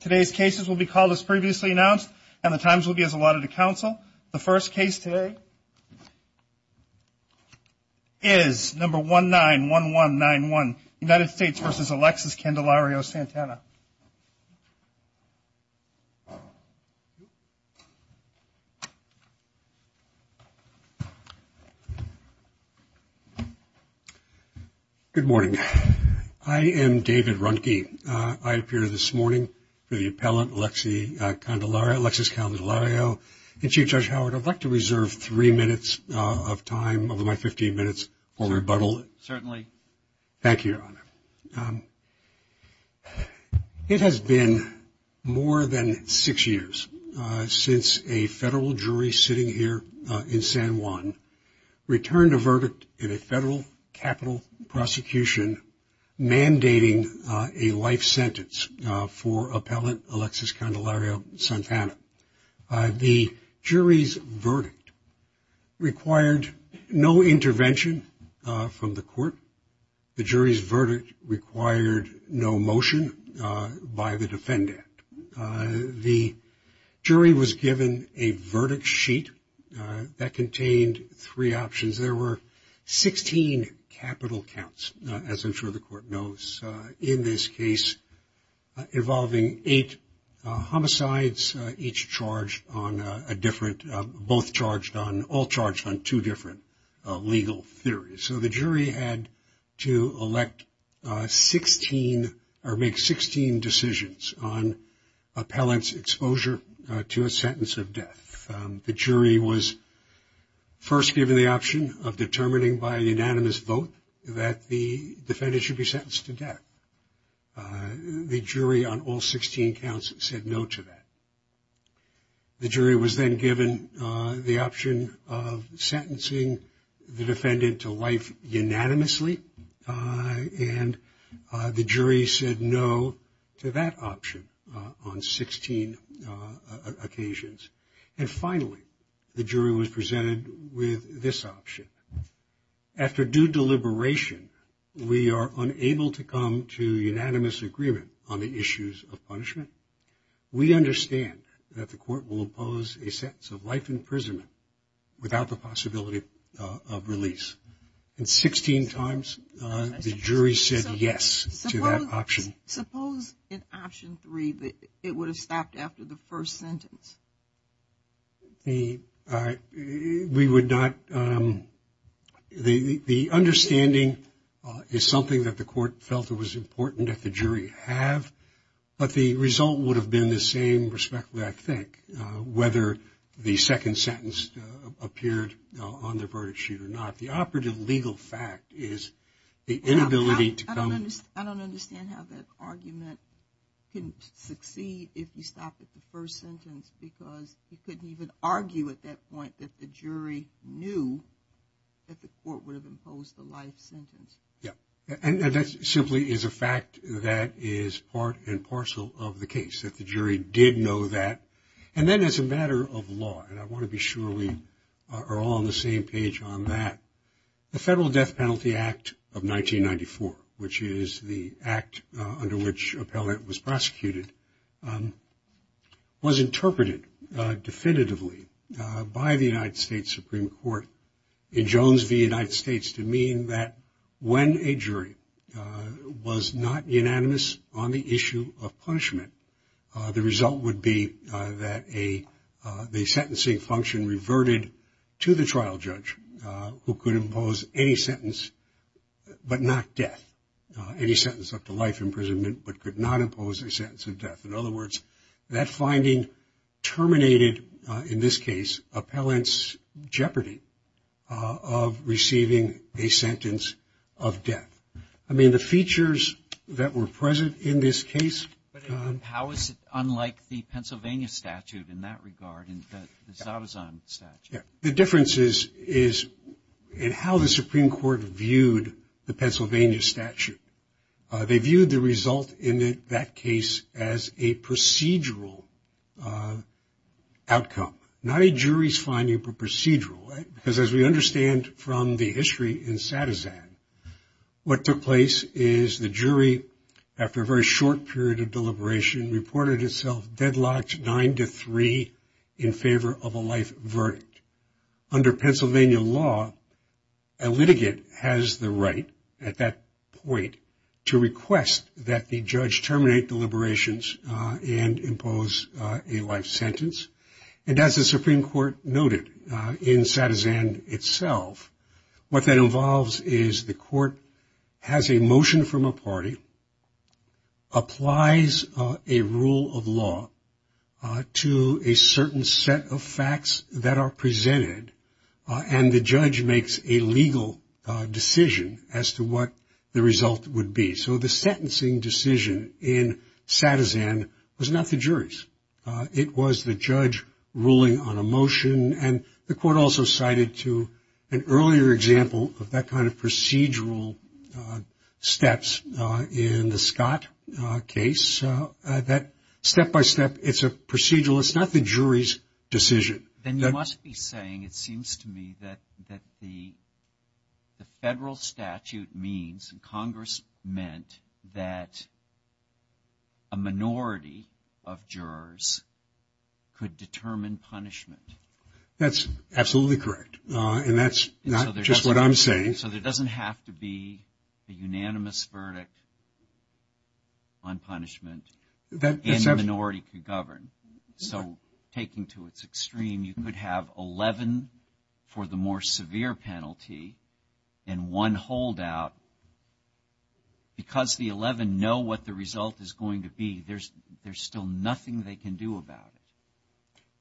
Today's cases will be called as previously announced and the times will be as allotted to counsel. The first case today is number 19-1191, United States v. Alexis Candelario-Santana. David Runke Good morning. I am David Runke. I appear this morning for the appellant, Alexis Candelario. And Chief Judge Howard, I'd like to reserve three minutes of time over my 15 minutes for rebuttal. Thank you, Your Honor. It has been more than six years since a federal jury sitting here in San Juan returned a verdict in a federal capital prosecution mandating a life sentence for appellant Alexis Candelario-Santana. The jury's verdict required no intervention from the court. The jury's verdict required no motion by the defendant. The jury was given a verdict sheet that contained three options. There were 16 capital counts, as I'm sure the court knows, in this case involving eight homicides, each charged on a different, both charged on, all charged on two different legal theories. So the jury had to elect 16 or make 16 decisions on appellant's exposure to a sentence of death. The jury was first given the option of determining by unanimous vote that the defendant should be sentenced to death. The jury on all 16 counts said no to that. The jury was then given the option of sentencing the defendant to life unanimously. And the jury said no to that option on 16 occasions. And finally, the jury was presented with this option. After due deliberation, we are unable to come to unanimous agreement on the issues of punishment. We understand that the court will oppose a sentence of life imprisonment without the possibility of release. And 16 times, the jury said yes to that option. Suppose in option three that it would have stopped after the first sentence? The, we would not, the understanding is something that the court felt it was important that the jury have. But the result would have been the same, respectively, I think, whether the second sentence appeared on the verdict sheet or not. The operative legal fact is the inability to come. I don't understand how that argument can succeed if you stop at the first sentence because you couldn't even argue at that point that the jury knew that the court would have imposed the life sentence. Yeah. And that simply is a fact that is part and parcel of the case that the jury did know that. And then as a matter of law, and I want to be sure we are all on the same page on that, the Federal Death Penalty Act of 1994, which is the act under which appellate was prosecuted, was interpreted definitively by the United States Supreme Court in Jones v. United States to mean that when a jury was not unanimous on the issue of punishment, the result would be that a, the sentencing function reverted to the trial judge who could impose any sentence but not death, any sentence up to life imprisonment but could not impose a sentence of death. In other words, that finding terminated, in this case, appellant's jeopardy of receiving a sentence of death. I mean, the features that were present in this case. But how is it unlike the Pennsylvania statute in that regard, the Zadazan statute? The difference is in how the Supreme Court viewed the Pennsylvania statute. They viewed the result in that case as a procedural outcome, not a jury's finding, but procedural. Because as we understand from the history in Zadazan, what took place is the jury, after a very short period of deliberation, reported itself deadlocked nine to three in favor of a life verdict. Under Pennsylvania law, a litigant has the right at that point to request that the judge terminate deliberations and impose a life sentence. And as the Supreme Court noted in Zadazan itself, what that involves is the court has a motion from a party, applies a rule of law to a certain set of facts that are presented, and the judge makes a legal decision as to what the result would be. So the sentencing decision in Zadazan was not the jury's. It was the judge ruling on a motion, and the court also cited to an earlier example of that kind of procedural steps in the Scott case, that step-by-step, it's a procedural, it's not the jury's decision. Then you must be saying, it seems to me, that the federal statute means, and Congress meant, that a minority of jurors could determine punishment. That's absolutely correct, and that's not just what I'm saying. So there doesn't have to be a unanimous verdict on punishment, and the minority could govern. So taking to its extreme, you could have 11 for the more severe penalty and one holdout. Because the 11 know what the result is going to be, there's still nothing they can do about it.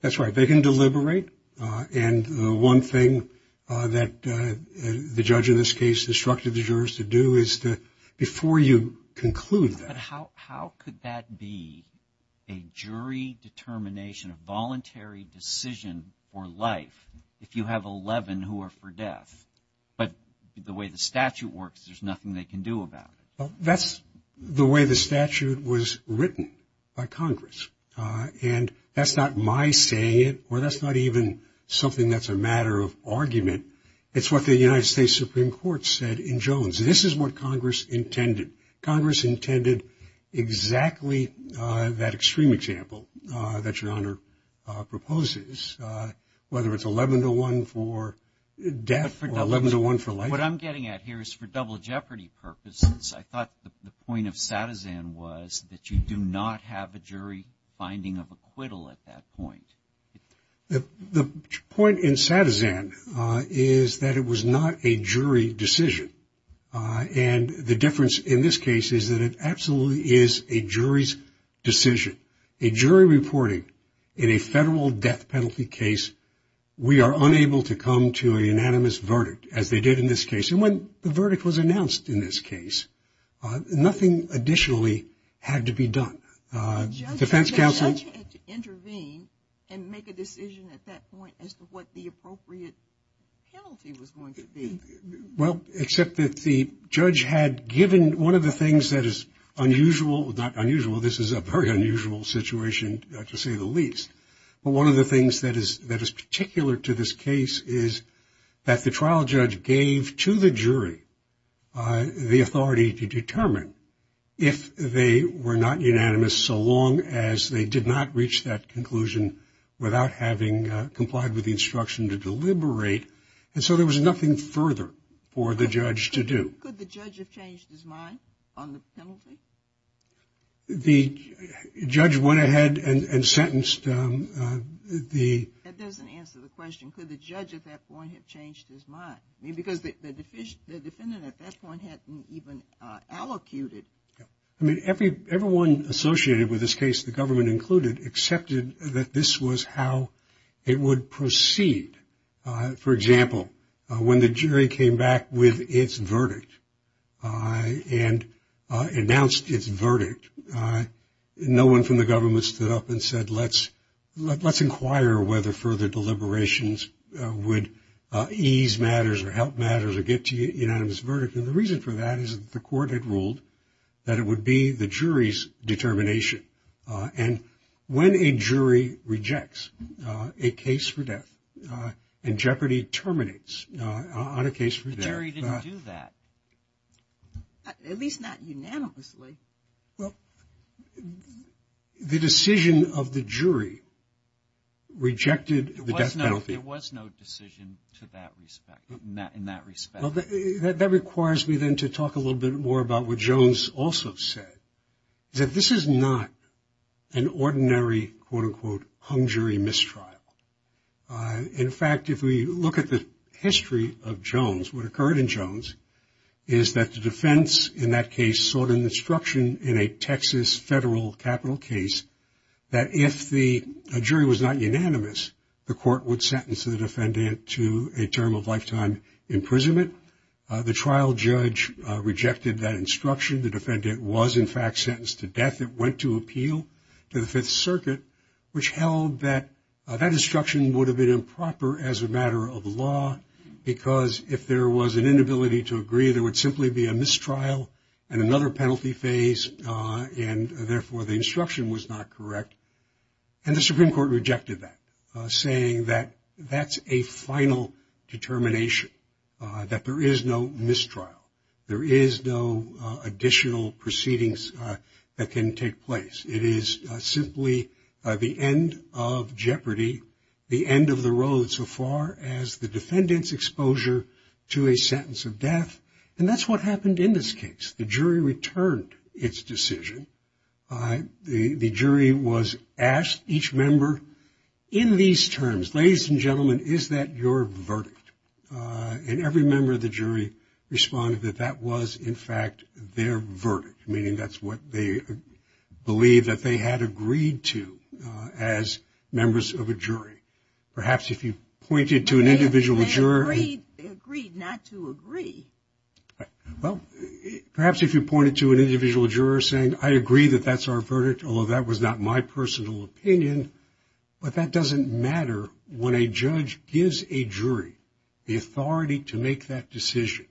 That's right. They can deliberate, and the one thing that the judge in this case instructed the jurors to do is to, before you conclude that. But how could that be a jury determination, a voluntary decision for life, if you have 11 who are for death? But the way the statute works, there's nothing they can do about it. That's the way the statute was written by Congress, and that's not my saying it, or that's not even something that's a matter of argument. It's what the United States Supreme Court said in Jones. This is what Congress intended. Congress intended exactly that extreme example that Your Honor proposes, whether it's 11 to 1 for death or 11 to 1 for life. What I'm getting at here is for double jeopardy purposes, I thought the point of Satizan was that you do not have a jury finding of acquittal at that point. The point in Satizan is that it was not a jury decision, and the difference in this case is that it absolutely is a jury's decision. A jury reporting in a federal death penalty case, we are unable to come to a unanimous verdict, as they did in this case. And when the verdict was announced in this case, nothing additionally had to be done. The defense counsel- The judge had to intervene and make a decision at that point as to what the appropriate penalty was going to be. Well, except that the judge had given one of the things that is unusual, not unusual. This is a very unusual situation, to say the least. But one of the things that is particular to this case is that the trial judge gave to the jury the authority to determine if they were not unanimous, so long as they did not reach that conclusion without having complied with the instruction to deliberate. And so there was nothing further for the judge to do. Could the judge have changed his mind on the penalty? The judge went ahead and sentenced the- That doesn't answer the question. Could the judge at that point have changed his mind? I mean, because the defendant at that point hadn't even allocated- I mean, everyone associated with this case, the government included, accepted that this was how it would proceed. For example, when the jury came back with its verdict and announced its verdict, no one from the government stood up and said, let's inquire whether further deliberations would ease matters or help matters or get to unanimous verdict. And the reason for that is that the court had ruled that it would be the jury's determination. And when a jury rejects a case for death and jeopardy terminates on a case for death- The jury didn't do that, at least not unanimously. Well, the decision of the jury rejected the death penalty. There was no decision to that respect, in that respect. That requires me then to talk a little bit more about what Jones also said, that this is not an ordinary, quote, unquote, hung jury mistrial. In fact, if we look at the history of Jones, what occurred in Jones is that the defense, in that case, sought an instruction in a Texas federal capital case that if the jury was not unanimous, the court would sentence the defendant to a term of lifetime imprisonment. The trial judge rejected that instruction. The defendant was, in fact, sentenced to death. It went to appeal to the Fifth Circuit, which held that that instruction would have been improper as a matter of law, because if there was an inability to agree, there would simply be a mistrial and another penalty phase. And therefore, the instruction was not correct. And the Supreme Court rejected that, saying that that's a final determination, that there is no mistrial, there is no additional proceedings that can take place. It is simply the end of jeopardy, the end of the road, so far as the defendant's exposure to a sentence of death. And that's what happened in this case. The jury returned its decision. The jury was asked, each member, in these terms, ladies and gentlemen, is that your verdict? And every member of the jury responded that that was, in fact, their verdict, meaning that's what they believed that they had agreed to as members of a jury. Perhaps if you pointed to an individual juror. They agreed not to agree. Well, perhaps if you pointed to an individual juror saying, I agree that that's our verdict, although that was not my personal opinion, but that doesn't matter when a judge gives a jury the authority to make that decision,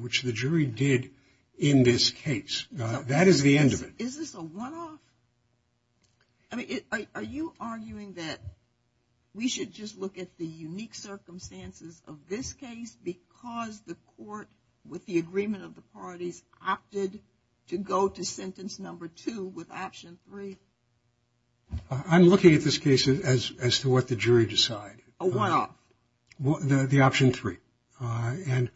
which the jury did in this case. That is the end of it. Is this a one-off? I mean, are you arguing that we should just look at the unique circumstances of this case because the court, with the agreement of the parties, opted to go to sentence number two with option three? I'm looking at this case as to what the jury decided. A one-off? The option three. And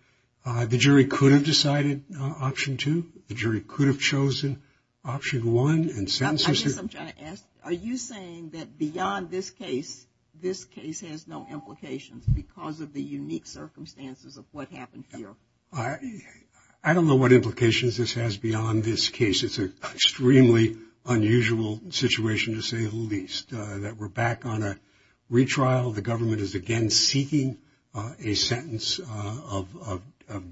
the jury could have decided option two. The jury could have chosen option one. I guess I'm trying to ask, are you saying that beyond this case, this case has no implications because of the unique circumstances of what happened here? I don't know what implications this has beyond this case. It's an extremely unusual situation, to say the least, that we're back on a retrial. The government is again seeking a sentence of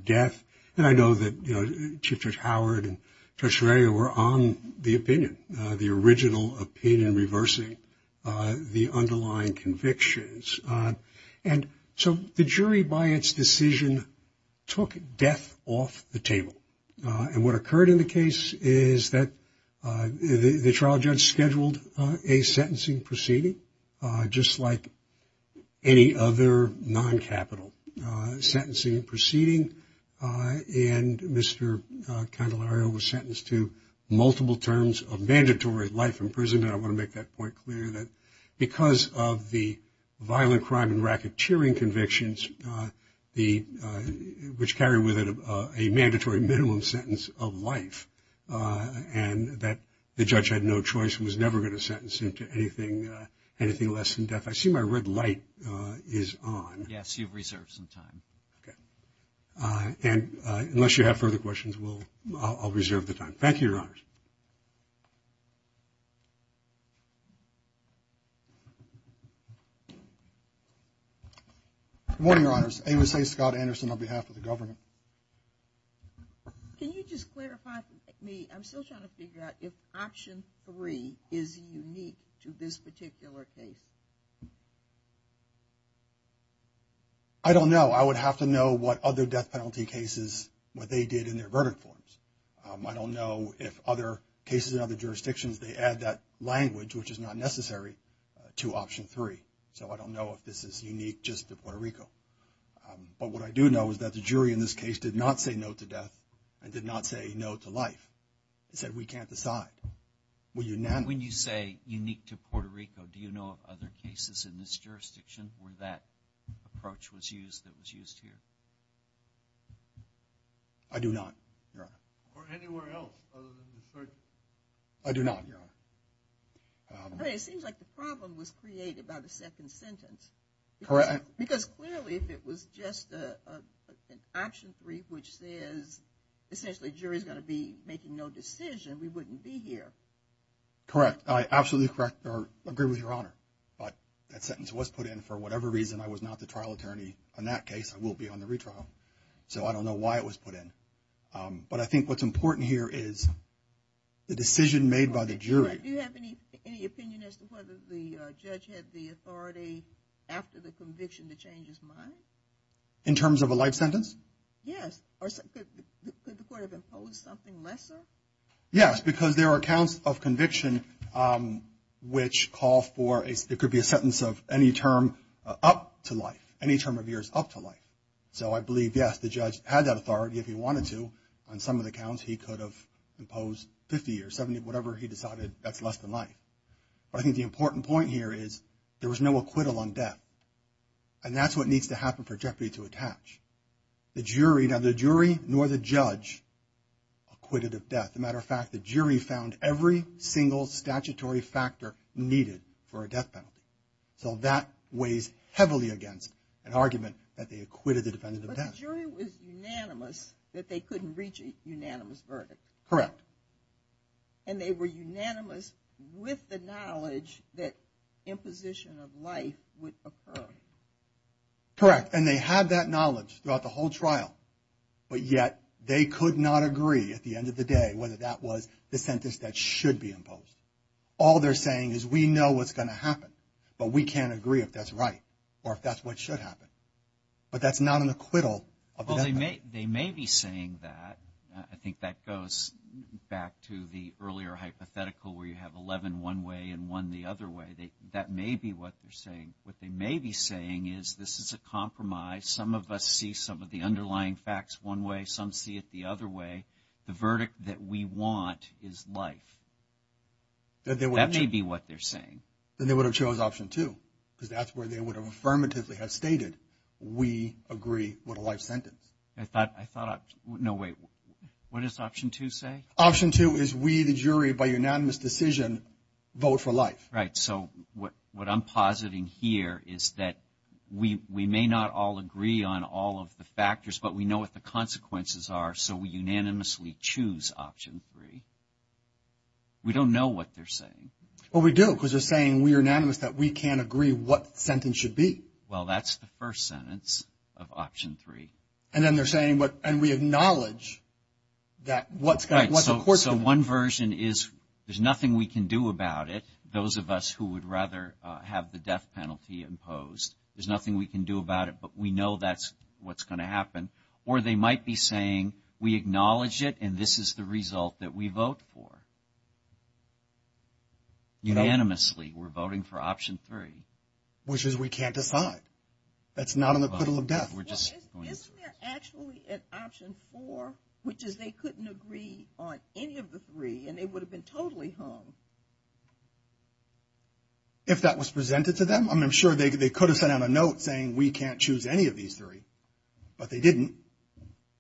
death. And I know that Chief Judge Howard and Judge Ferrer were on the opinion, the original opinion reversing the underlying convictions. And so the jury, by its decision, took death off the table. And what occurred in the case is that the trial judge scheduled a sentencing proceeding, just like any other non-capital sentencing proceeding, and Mr. Candelario was sentenced to multiple terms of mandatory life in prison. And I want to make that point clear that because of the violent crime and racketeering convictions, which carry with it a mandatory minimum sentence of life, and that the judge had no choice and was never going to sentence him to anything less than death. I see my red light is on. Yes, you've reserved some time. And unless you have further questions, I'll reserve the time. Thank you, Your Honors. Good morning, Your Honors. Amos A. Scott Anderson on behalf of the government. Can you just clarify for me, I'm still trying to figure out if Option 3 is unique to this particular case? I don't know. I would have to know what other death penalty cases, what they did in their verdict forms. I don't know if other cases in other jurisdictions, they add that language, which is not necessary, to Option 3. So I don't know if this is unique just to Puerto Rico. But what I do know is that the jury in this case did not say no to death and did not say no to life. They said we can't decide. When you say unique to Puerto Rico, do you know of other cases in this jurisdiction where that approach was used that was used here? I do not, Your Honor. Or anywhere else other than the search? I do not, Your Honor. It seems like the problem was created by the second sentence. Correct. Because clearly if it was just an Option 3 which says essentially jury is going to be making no decision, we wouldn't be here. Correct. Absolutely correct. I agree with Your Honor. But that sentence was put in for whatever reason. I was not the trial attorney on that case. I will be on the retrial. So I don't know why it was put in. But I think what's important here is the decision made by the jury. Do you have any opinion as to whether the judge had the authority after the conviction to change his mind? In terms of a life sentence? Yes. Could the court have imposed something lesser? Yes, because there are counts of conviction which call for, it could be a sentence of any term up to life, any term of years up to life. So I believe, yes, the judge had that authority if he wanted to. On some of the counts he could have imposed 50 or 70, whatever he decided that's less than life. But I think the important point here is there was no acquittal on death. And that's what needs to happen for jeopardy to attach. The jury, now the jury nor the judge acquitted of death. As a matter of fact, the jury found every single statutory factor needed for a death penalty. So that weighs heavily against an argument that they acquitted the defendant of death. The jury was unanimous that they couldn't reach a unanimous verdict. Correct. And they were unanimous with the knowledge that imposition of life would occur. Correct. And they had that knowledge throughout the whole trial. But yet they could not agree at the end of the day whether that was the sentence that should be imposed. All they're saying is we know what's going to happen, but we can't agree if that's right or if that's what should happen. But that's not an acquittal of a death penalty. They may be saying that. I think that goes back to the earlier hypothetical where you have 11 one way and one the other way. That may be what they're saying. What they may be saying is this is a compromise. Some of us see some of the underlying facts one way. Some see it the other way. The verdict that we want is life. That may be what they're saying. Then they would have chose option two because that's where they would have affirmatively have stated we agree with a life sentence. I thought I thought no way. What does option two say? Option two is we the jury by unanimous decision vote for life. Right. So what I'm positing here is that we may not all agree on all of the factors, but we know what the consequences are. So we unanimously choose option three. We don't know what they're saying. Well, we do because they're saying we are unanimous that we can't agree what the sentence should be. Well, that's the first sentence of option three. And then they're saying and we acknowledge that what's the course of it. Right. So one version is there's nothing we can do about it, those of us who would rather have the death penalty imposed. There's nothing we can do about it, but we know that's what's going to happen. Or they might be saying we acknowledge it and this is the result that we vote for. Unanimously, we're voting for option three. Which is we can't decide. That's not in the puddle of death. Isn't there actually an option four, which is they couldn't agree on any of the three and they would have been totally hung? If that was presented to them, I'm sure they could have sent out a note saying we can't choose any of these three. But they didn't.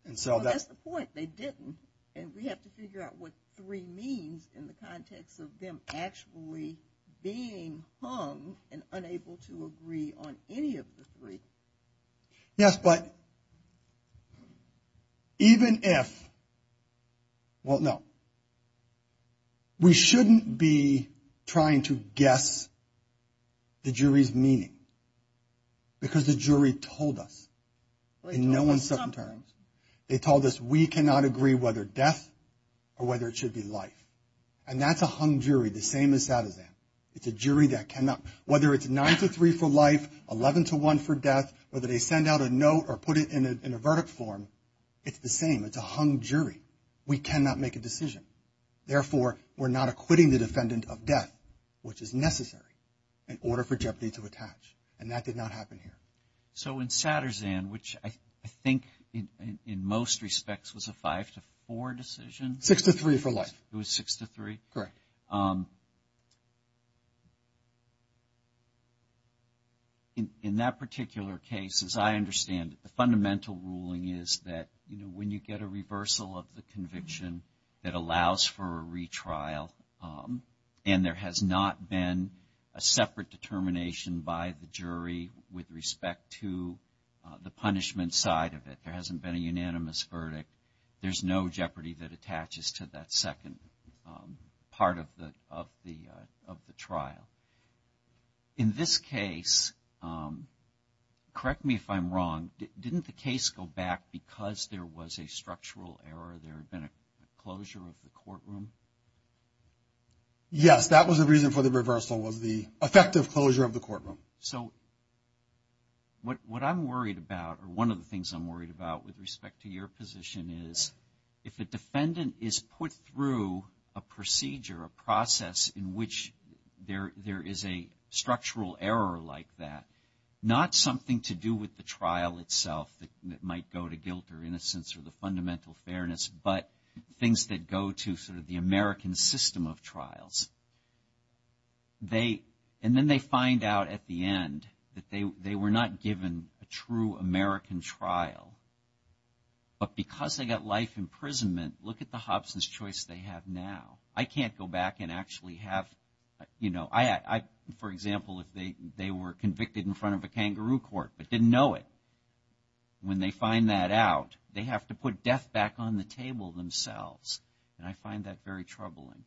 And so that's the point, they didn't. And we have to figure out what three means in the context of them actually being hung and unable to agree on any of the three. Yes, but even if, well, no. We shouldn't be trying to guess the jury's meaning. Because the jury told us in no uncertain terms, they told us we cannot agree whether death or whether it should be life. And that's a hung jury, the same as Saddam. It's a jury that cannot, whether it's nine to three for life, 11 to one for death, whether they send out a note or put it in a verdict form, it's the same. It's a hung jury. We cannot make a decision. Therefore, we're not acquitting the defendant of death, which is necessary, in order for jeopardy to attach. And that did not happen here. So in Satterzan, which I think in most respects was a five to four decision? Six to three for life. It was six to three? Correct. In that particular case, as I understand it, the fundamental ruling is that when you get a reversal of the conviction that allows for a retrial, and there has not been a separate determination by the jury with respect to the punishment side of it, there hasn't been a unanimous verdict, there's no jeopardy that attaches to that second part of the trial. In this case, correct me if I'm wrong, didn't the case go back because there was a structural error? There had been a closure of the courtroom? Yes, that was the reason for the reversal was the effective closure of the courtroom. So what I'm worried about, or one of the things I'm worried about with respect to your position is, if a defendant is put through a procedure, a process in which there is a structural error like that, not something to do with the trial itself that might go to guilt or innocence or the fundamental fairness, but things that go to sort of the American system of trials. And then they find out at the end that they were not given a true American trial. But because they got life imprisonment, look at the Hobson's choice they have now. I can't go back and actually have, you know, for example, if they were convicted in front of a kangaroo court but didn't know it. When they find that out, they have to put death back on the table themselves. And I find that very troubling.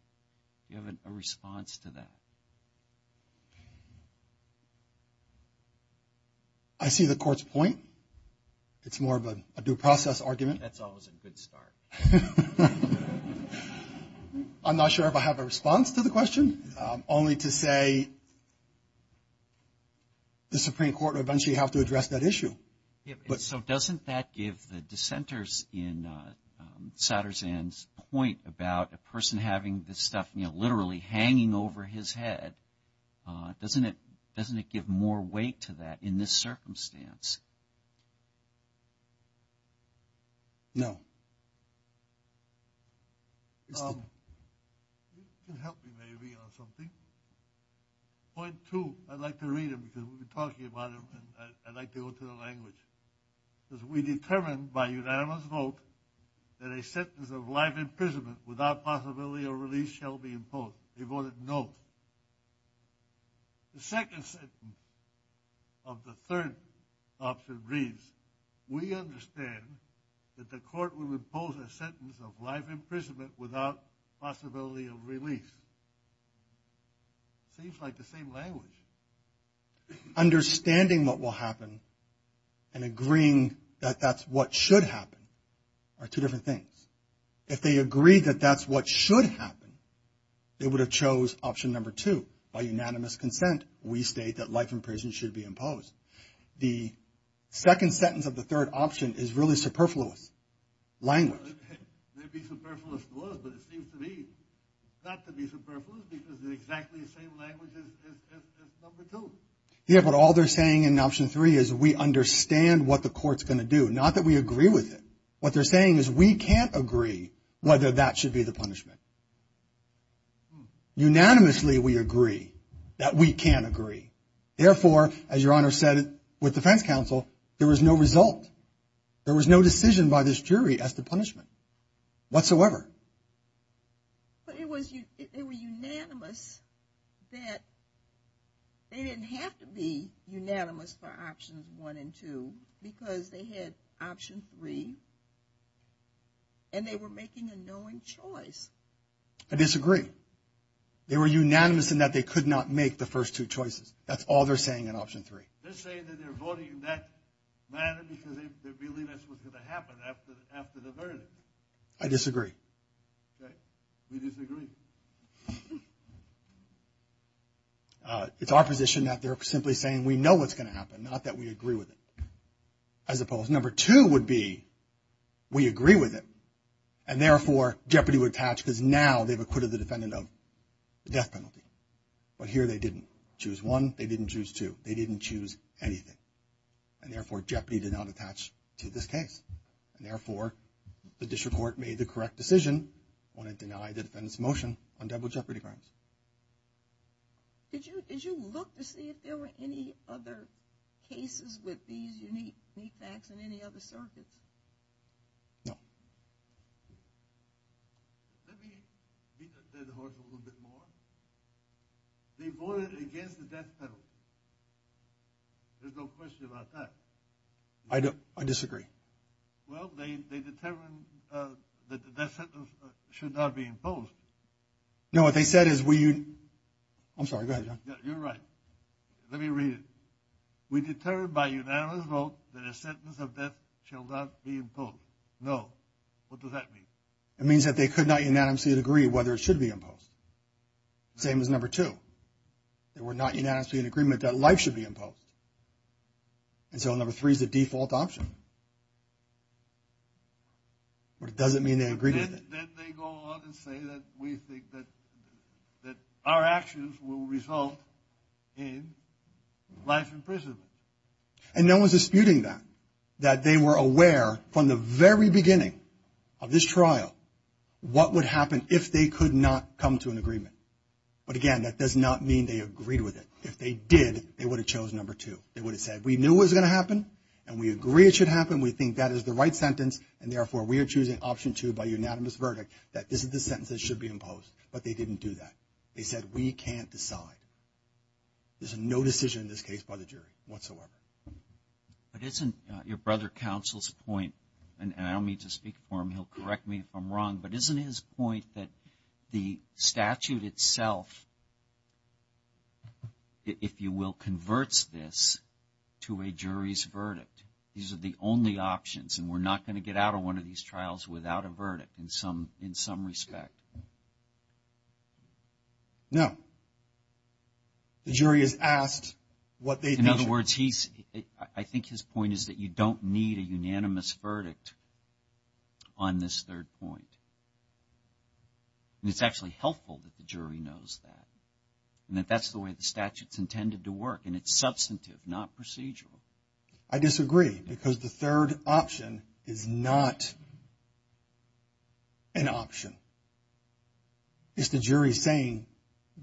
Do you have a response to that? I see the court's point. It's more of a due process argument. That's always a good start. I'm not sure if I have a response to the question, only to say the Supreme Court will eventually have to address that issue. So doesn't that give the dissenters in Satterzan's point about a person having this stuff, you know, literally hanging over his head, doesn't it give more weight to that in this circumstance? No. You can help me maybe on something. Point two, I'd like to read them because we've been talking about them and I'd like to go to the language. It says, we determine by unanimous vote that a sentence of life imprisonment without possibility of release shall be imposed. They voted no. The second sentence of the third option reads, we understand that the court will impose a sentence of life imprisonment without possibility of release. Seems like the same language. Understanding what will happen and agreeing that that's what should happen are two different things. If they agree that that's what should happen, they would have chose option number two. By unanimous consent, we state that life imprisonment should be imposed. The second sentence of the third option is really superfluous language. Maybe superfluous was, but it seems to me not to be superfluous because they're exactly the same language as number two. Yeah, but all they're saying in option three is we understand what the court's going to do. Not that we agree with it. What they're saying is we can't agree whether that should be the punishment. Therefore, as your honor said, with defense counsel, there was no result. There was no decision by this jury as to punishment whatsoever. But it was unanimous that they didn't have to be unanimous for options one and two because they had option three and they were making a knowing choice. I disagree. They were unanimous in that they could not make the first two choices. That's all they're saying in option three. They're saying that they're voting in that manner because they believe that's what's going to happen after the verdict. I disagree. We disagree. It's our position that they're simply saying we know what's going to happen, not that we agree with it. Number two would be we agree with it. And therefore, jeopardy would attach because now they've acquitted the defendant of the death penalty. But here they didn't choose one. They didn't choose two. They didn't choose anything. And therefore, jeopardy did not attach to this case. And therefore, the district court made the correct decision when it denied the defendant's motion on double jeopardy crimes. Did you look to see if there were any other cases with these unique facts in any other circuits? No. Let me beat the dead horse a little bit more. They voted against the death penalty. There's no question about that. I disagree. Well, they determined that the death sentence should not be imposed. No, what they said is we – I'm sorry. Go ahead, John. You're right. Let me read it. We determined by unanimous vote that a sentence of death shall not be imposed. No. What does that mean? It means that they could not unanimously agree whether it should be imposed. Same as number two. They were not unanimously in agreement that life should be imposed. And so number three is the default option. But it doesn't mean they agreed with it. Then they go on and say that we think that our actions will result in life imprisonment. And no one's disputing that, that they were aware from the very beginning of this trial what would happen if they could not come to an agreement. But, again, that does not mean they agreed with it. If they did, they would have chosen number two. They would have said we knew it was going to happen and we agree it should happen. We think that is the right sentence and, therefore, we are choosing option two by unanimous verdict that this is the sentence that should be imposed. But they didn't do that. They said we can't decide. There's no decision in this case by the jury whatsoever. But isn't your brother counsel's point – and I don't mean to speak for him. He'll correct me if I'm wrong. But isn't his point that the statute itself, if you will, converts this to a jury's verdict? These are the only options and we're not going to get out of one of these trials without a verdict in some respect. No. The jury has asked what they think. In other words, I think his point is that you don't need a unanimous verdict on this third point. It's actually helpful that the jury knows that and that that's the way the statute's intended to work. And it's substantive, not procedural. I disagree because the third option is not an option. It's the jury saying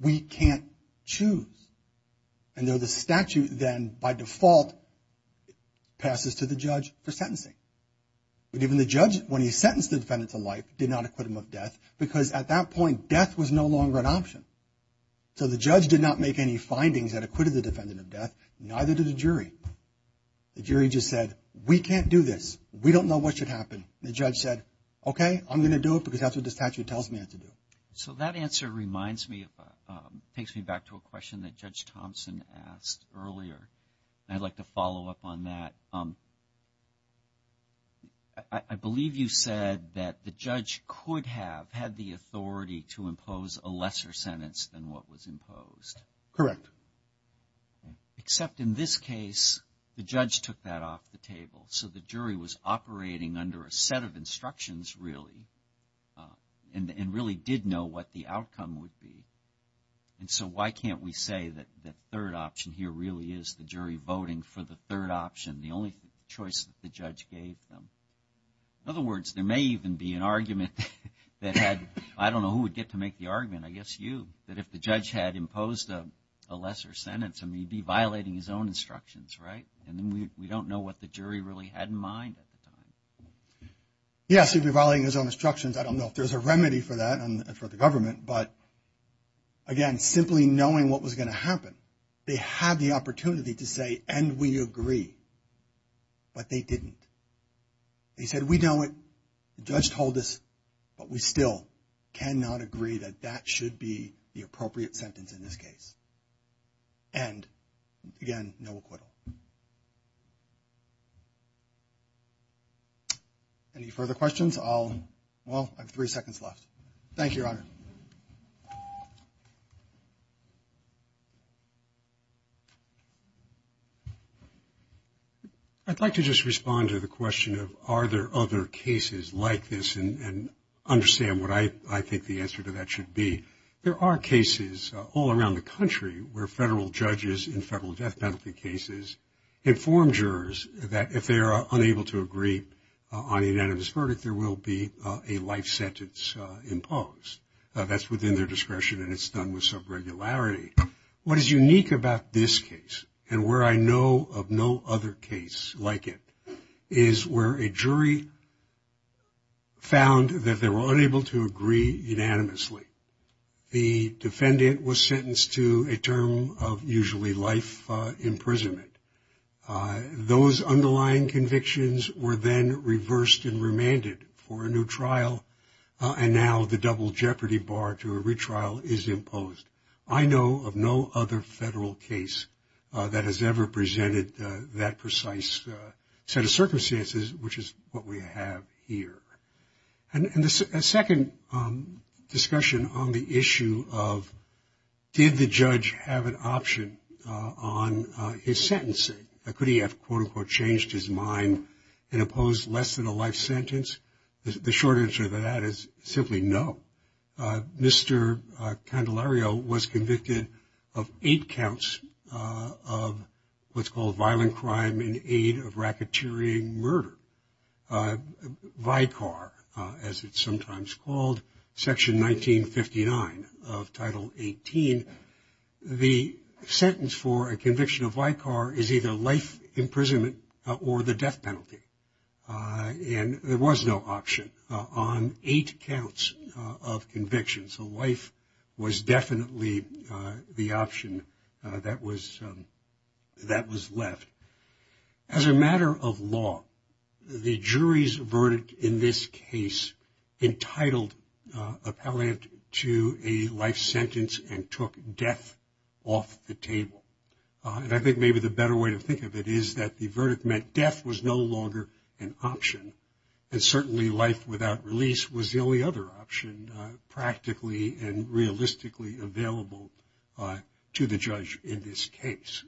we can't choose. And so the statute then, by default, passes to the judge for sentencing. But even the judge, when he sentenced the defendant to life, did not acquit him of death because, at that point, death was no longer an option. So the judge did not make any findings that acquitted the defendant of death, neither did the jury. The jury just said, we can't do this. We don't know what should happen. And the judge said, okay, I'm going to do it because that's what the statute tells me I have to do. So that answer reminds me, takes me back to a question that Judge Thompson asked earlier. And I'd like to follow up on that. I believe you said that the judge could have had the authority to impose a lesser sentence than what was imposed. Correct. Except in this case, the judge took that off the table. So the jury was operating under a set of instructions, really, and really did know what the outcome would be. And so why can't we say that the third option here really is the jury voting for the third option? The only choice that the judge gave them. In other words, there may even be an argument that had, I don't know who would get to make the argument, I guess you, that if the judge had imposed a lesser sentence, he'd be violating his own instructions, right? And then we don't know what the jury really had in mind at the time. Yes, he'd be violating his own instructions. I don't know if there's a remedy for that for the government. But, again, simply knowing what was going to happen, they had the opportunity to say, and we agree. But they didn't. They said, we know it. The judge told us. But we still cannot agree that that should be the appropriate sentence in this case. And, again, no acquittal. Any further questions? Well, I have three seconds left. Thank you, Your Honor. I'd like to just respond to the question of are there other cases like this and understand what I think the answer to that should be. There are cases all around the country where federal judges in federal death penalty cases inform jurors that if they are unable to agree on a unanimous verdict, there will be a life sentence imposed. That's within their discretion, and it's done with some regularity. What is unique about this case, and where I know of no other case like it, is where a jury found that they were unable to agree unanimously. The defendant was sentenced to a term of usually life imprisonment. Those underlying convictions were then reversed and remanded for a new trial, and now the double jeopardy bar to a retrial is imposed. I know of no other federal case that has ever presented that precise set of circumstances, which is what we have here. And a second discussion on the issue of did the judge have an option on his sentencing? Could he have, quote, unquote, changed his mind and imposed less than a life sentence? The short answer to that is simply no. Mr. Candelario was convicted of eight counts of what's called violent crime in aid of racketeering murder. Vicar, as it's sometimes called, Section 1959 of Title 18, the sentence for a conviction of vicar is either life imprisonment or the death penalty. And there was no option on eight counts of conviction, so life was definitely the option that was left. As a matter of law, the jury's verdict in this case entitled Appellant to a life sentence and took death off the table. And I think maybe the better way to think of it is that the verdict meant death was no longer an option, and certainly life without release was the only other option practically and realistically available to the judge in this case.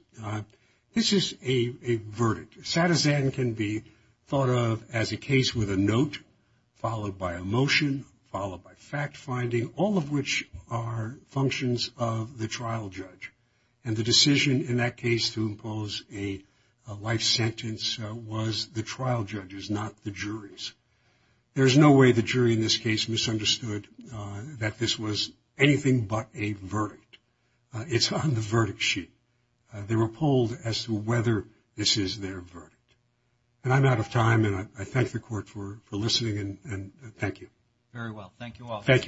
This is a verdict. Satizan can be thought of as a case with a note, followed by a motion, followed by fact finding, all of which are functions of the trial judge. And the decision in that case to impose a life sentence was the trial judge's, not the jury's. There's no way the jury in this case misunderstood that this was anything but a verdict. It's on the verdict sheet. They were polled as to whether this is their verdict. And I'm out of time, and I thank the court for listening, and thank you. Very well. Thank you all. Thank you.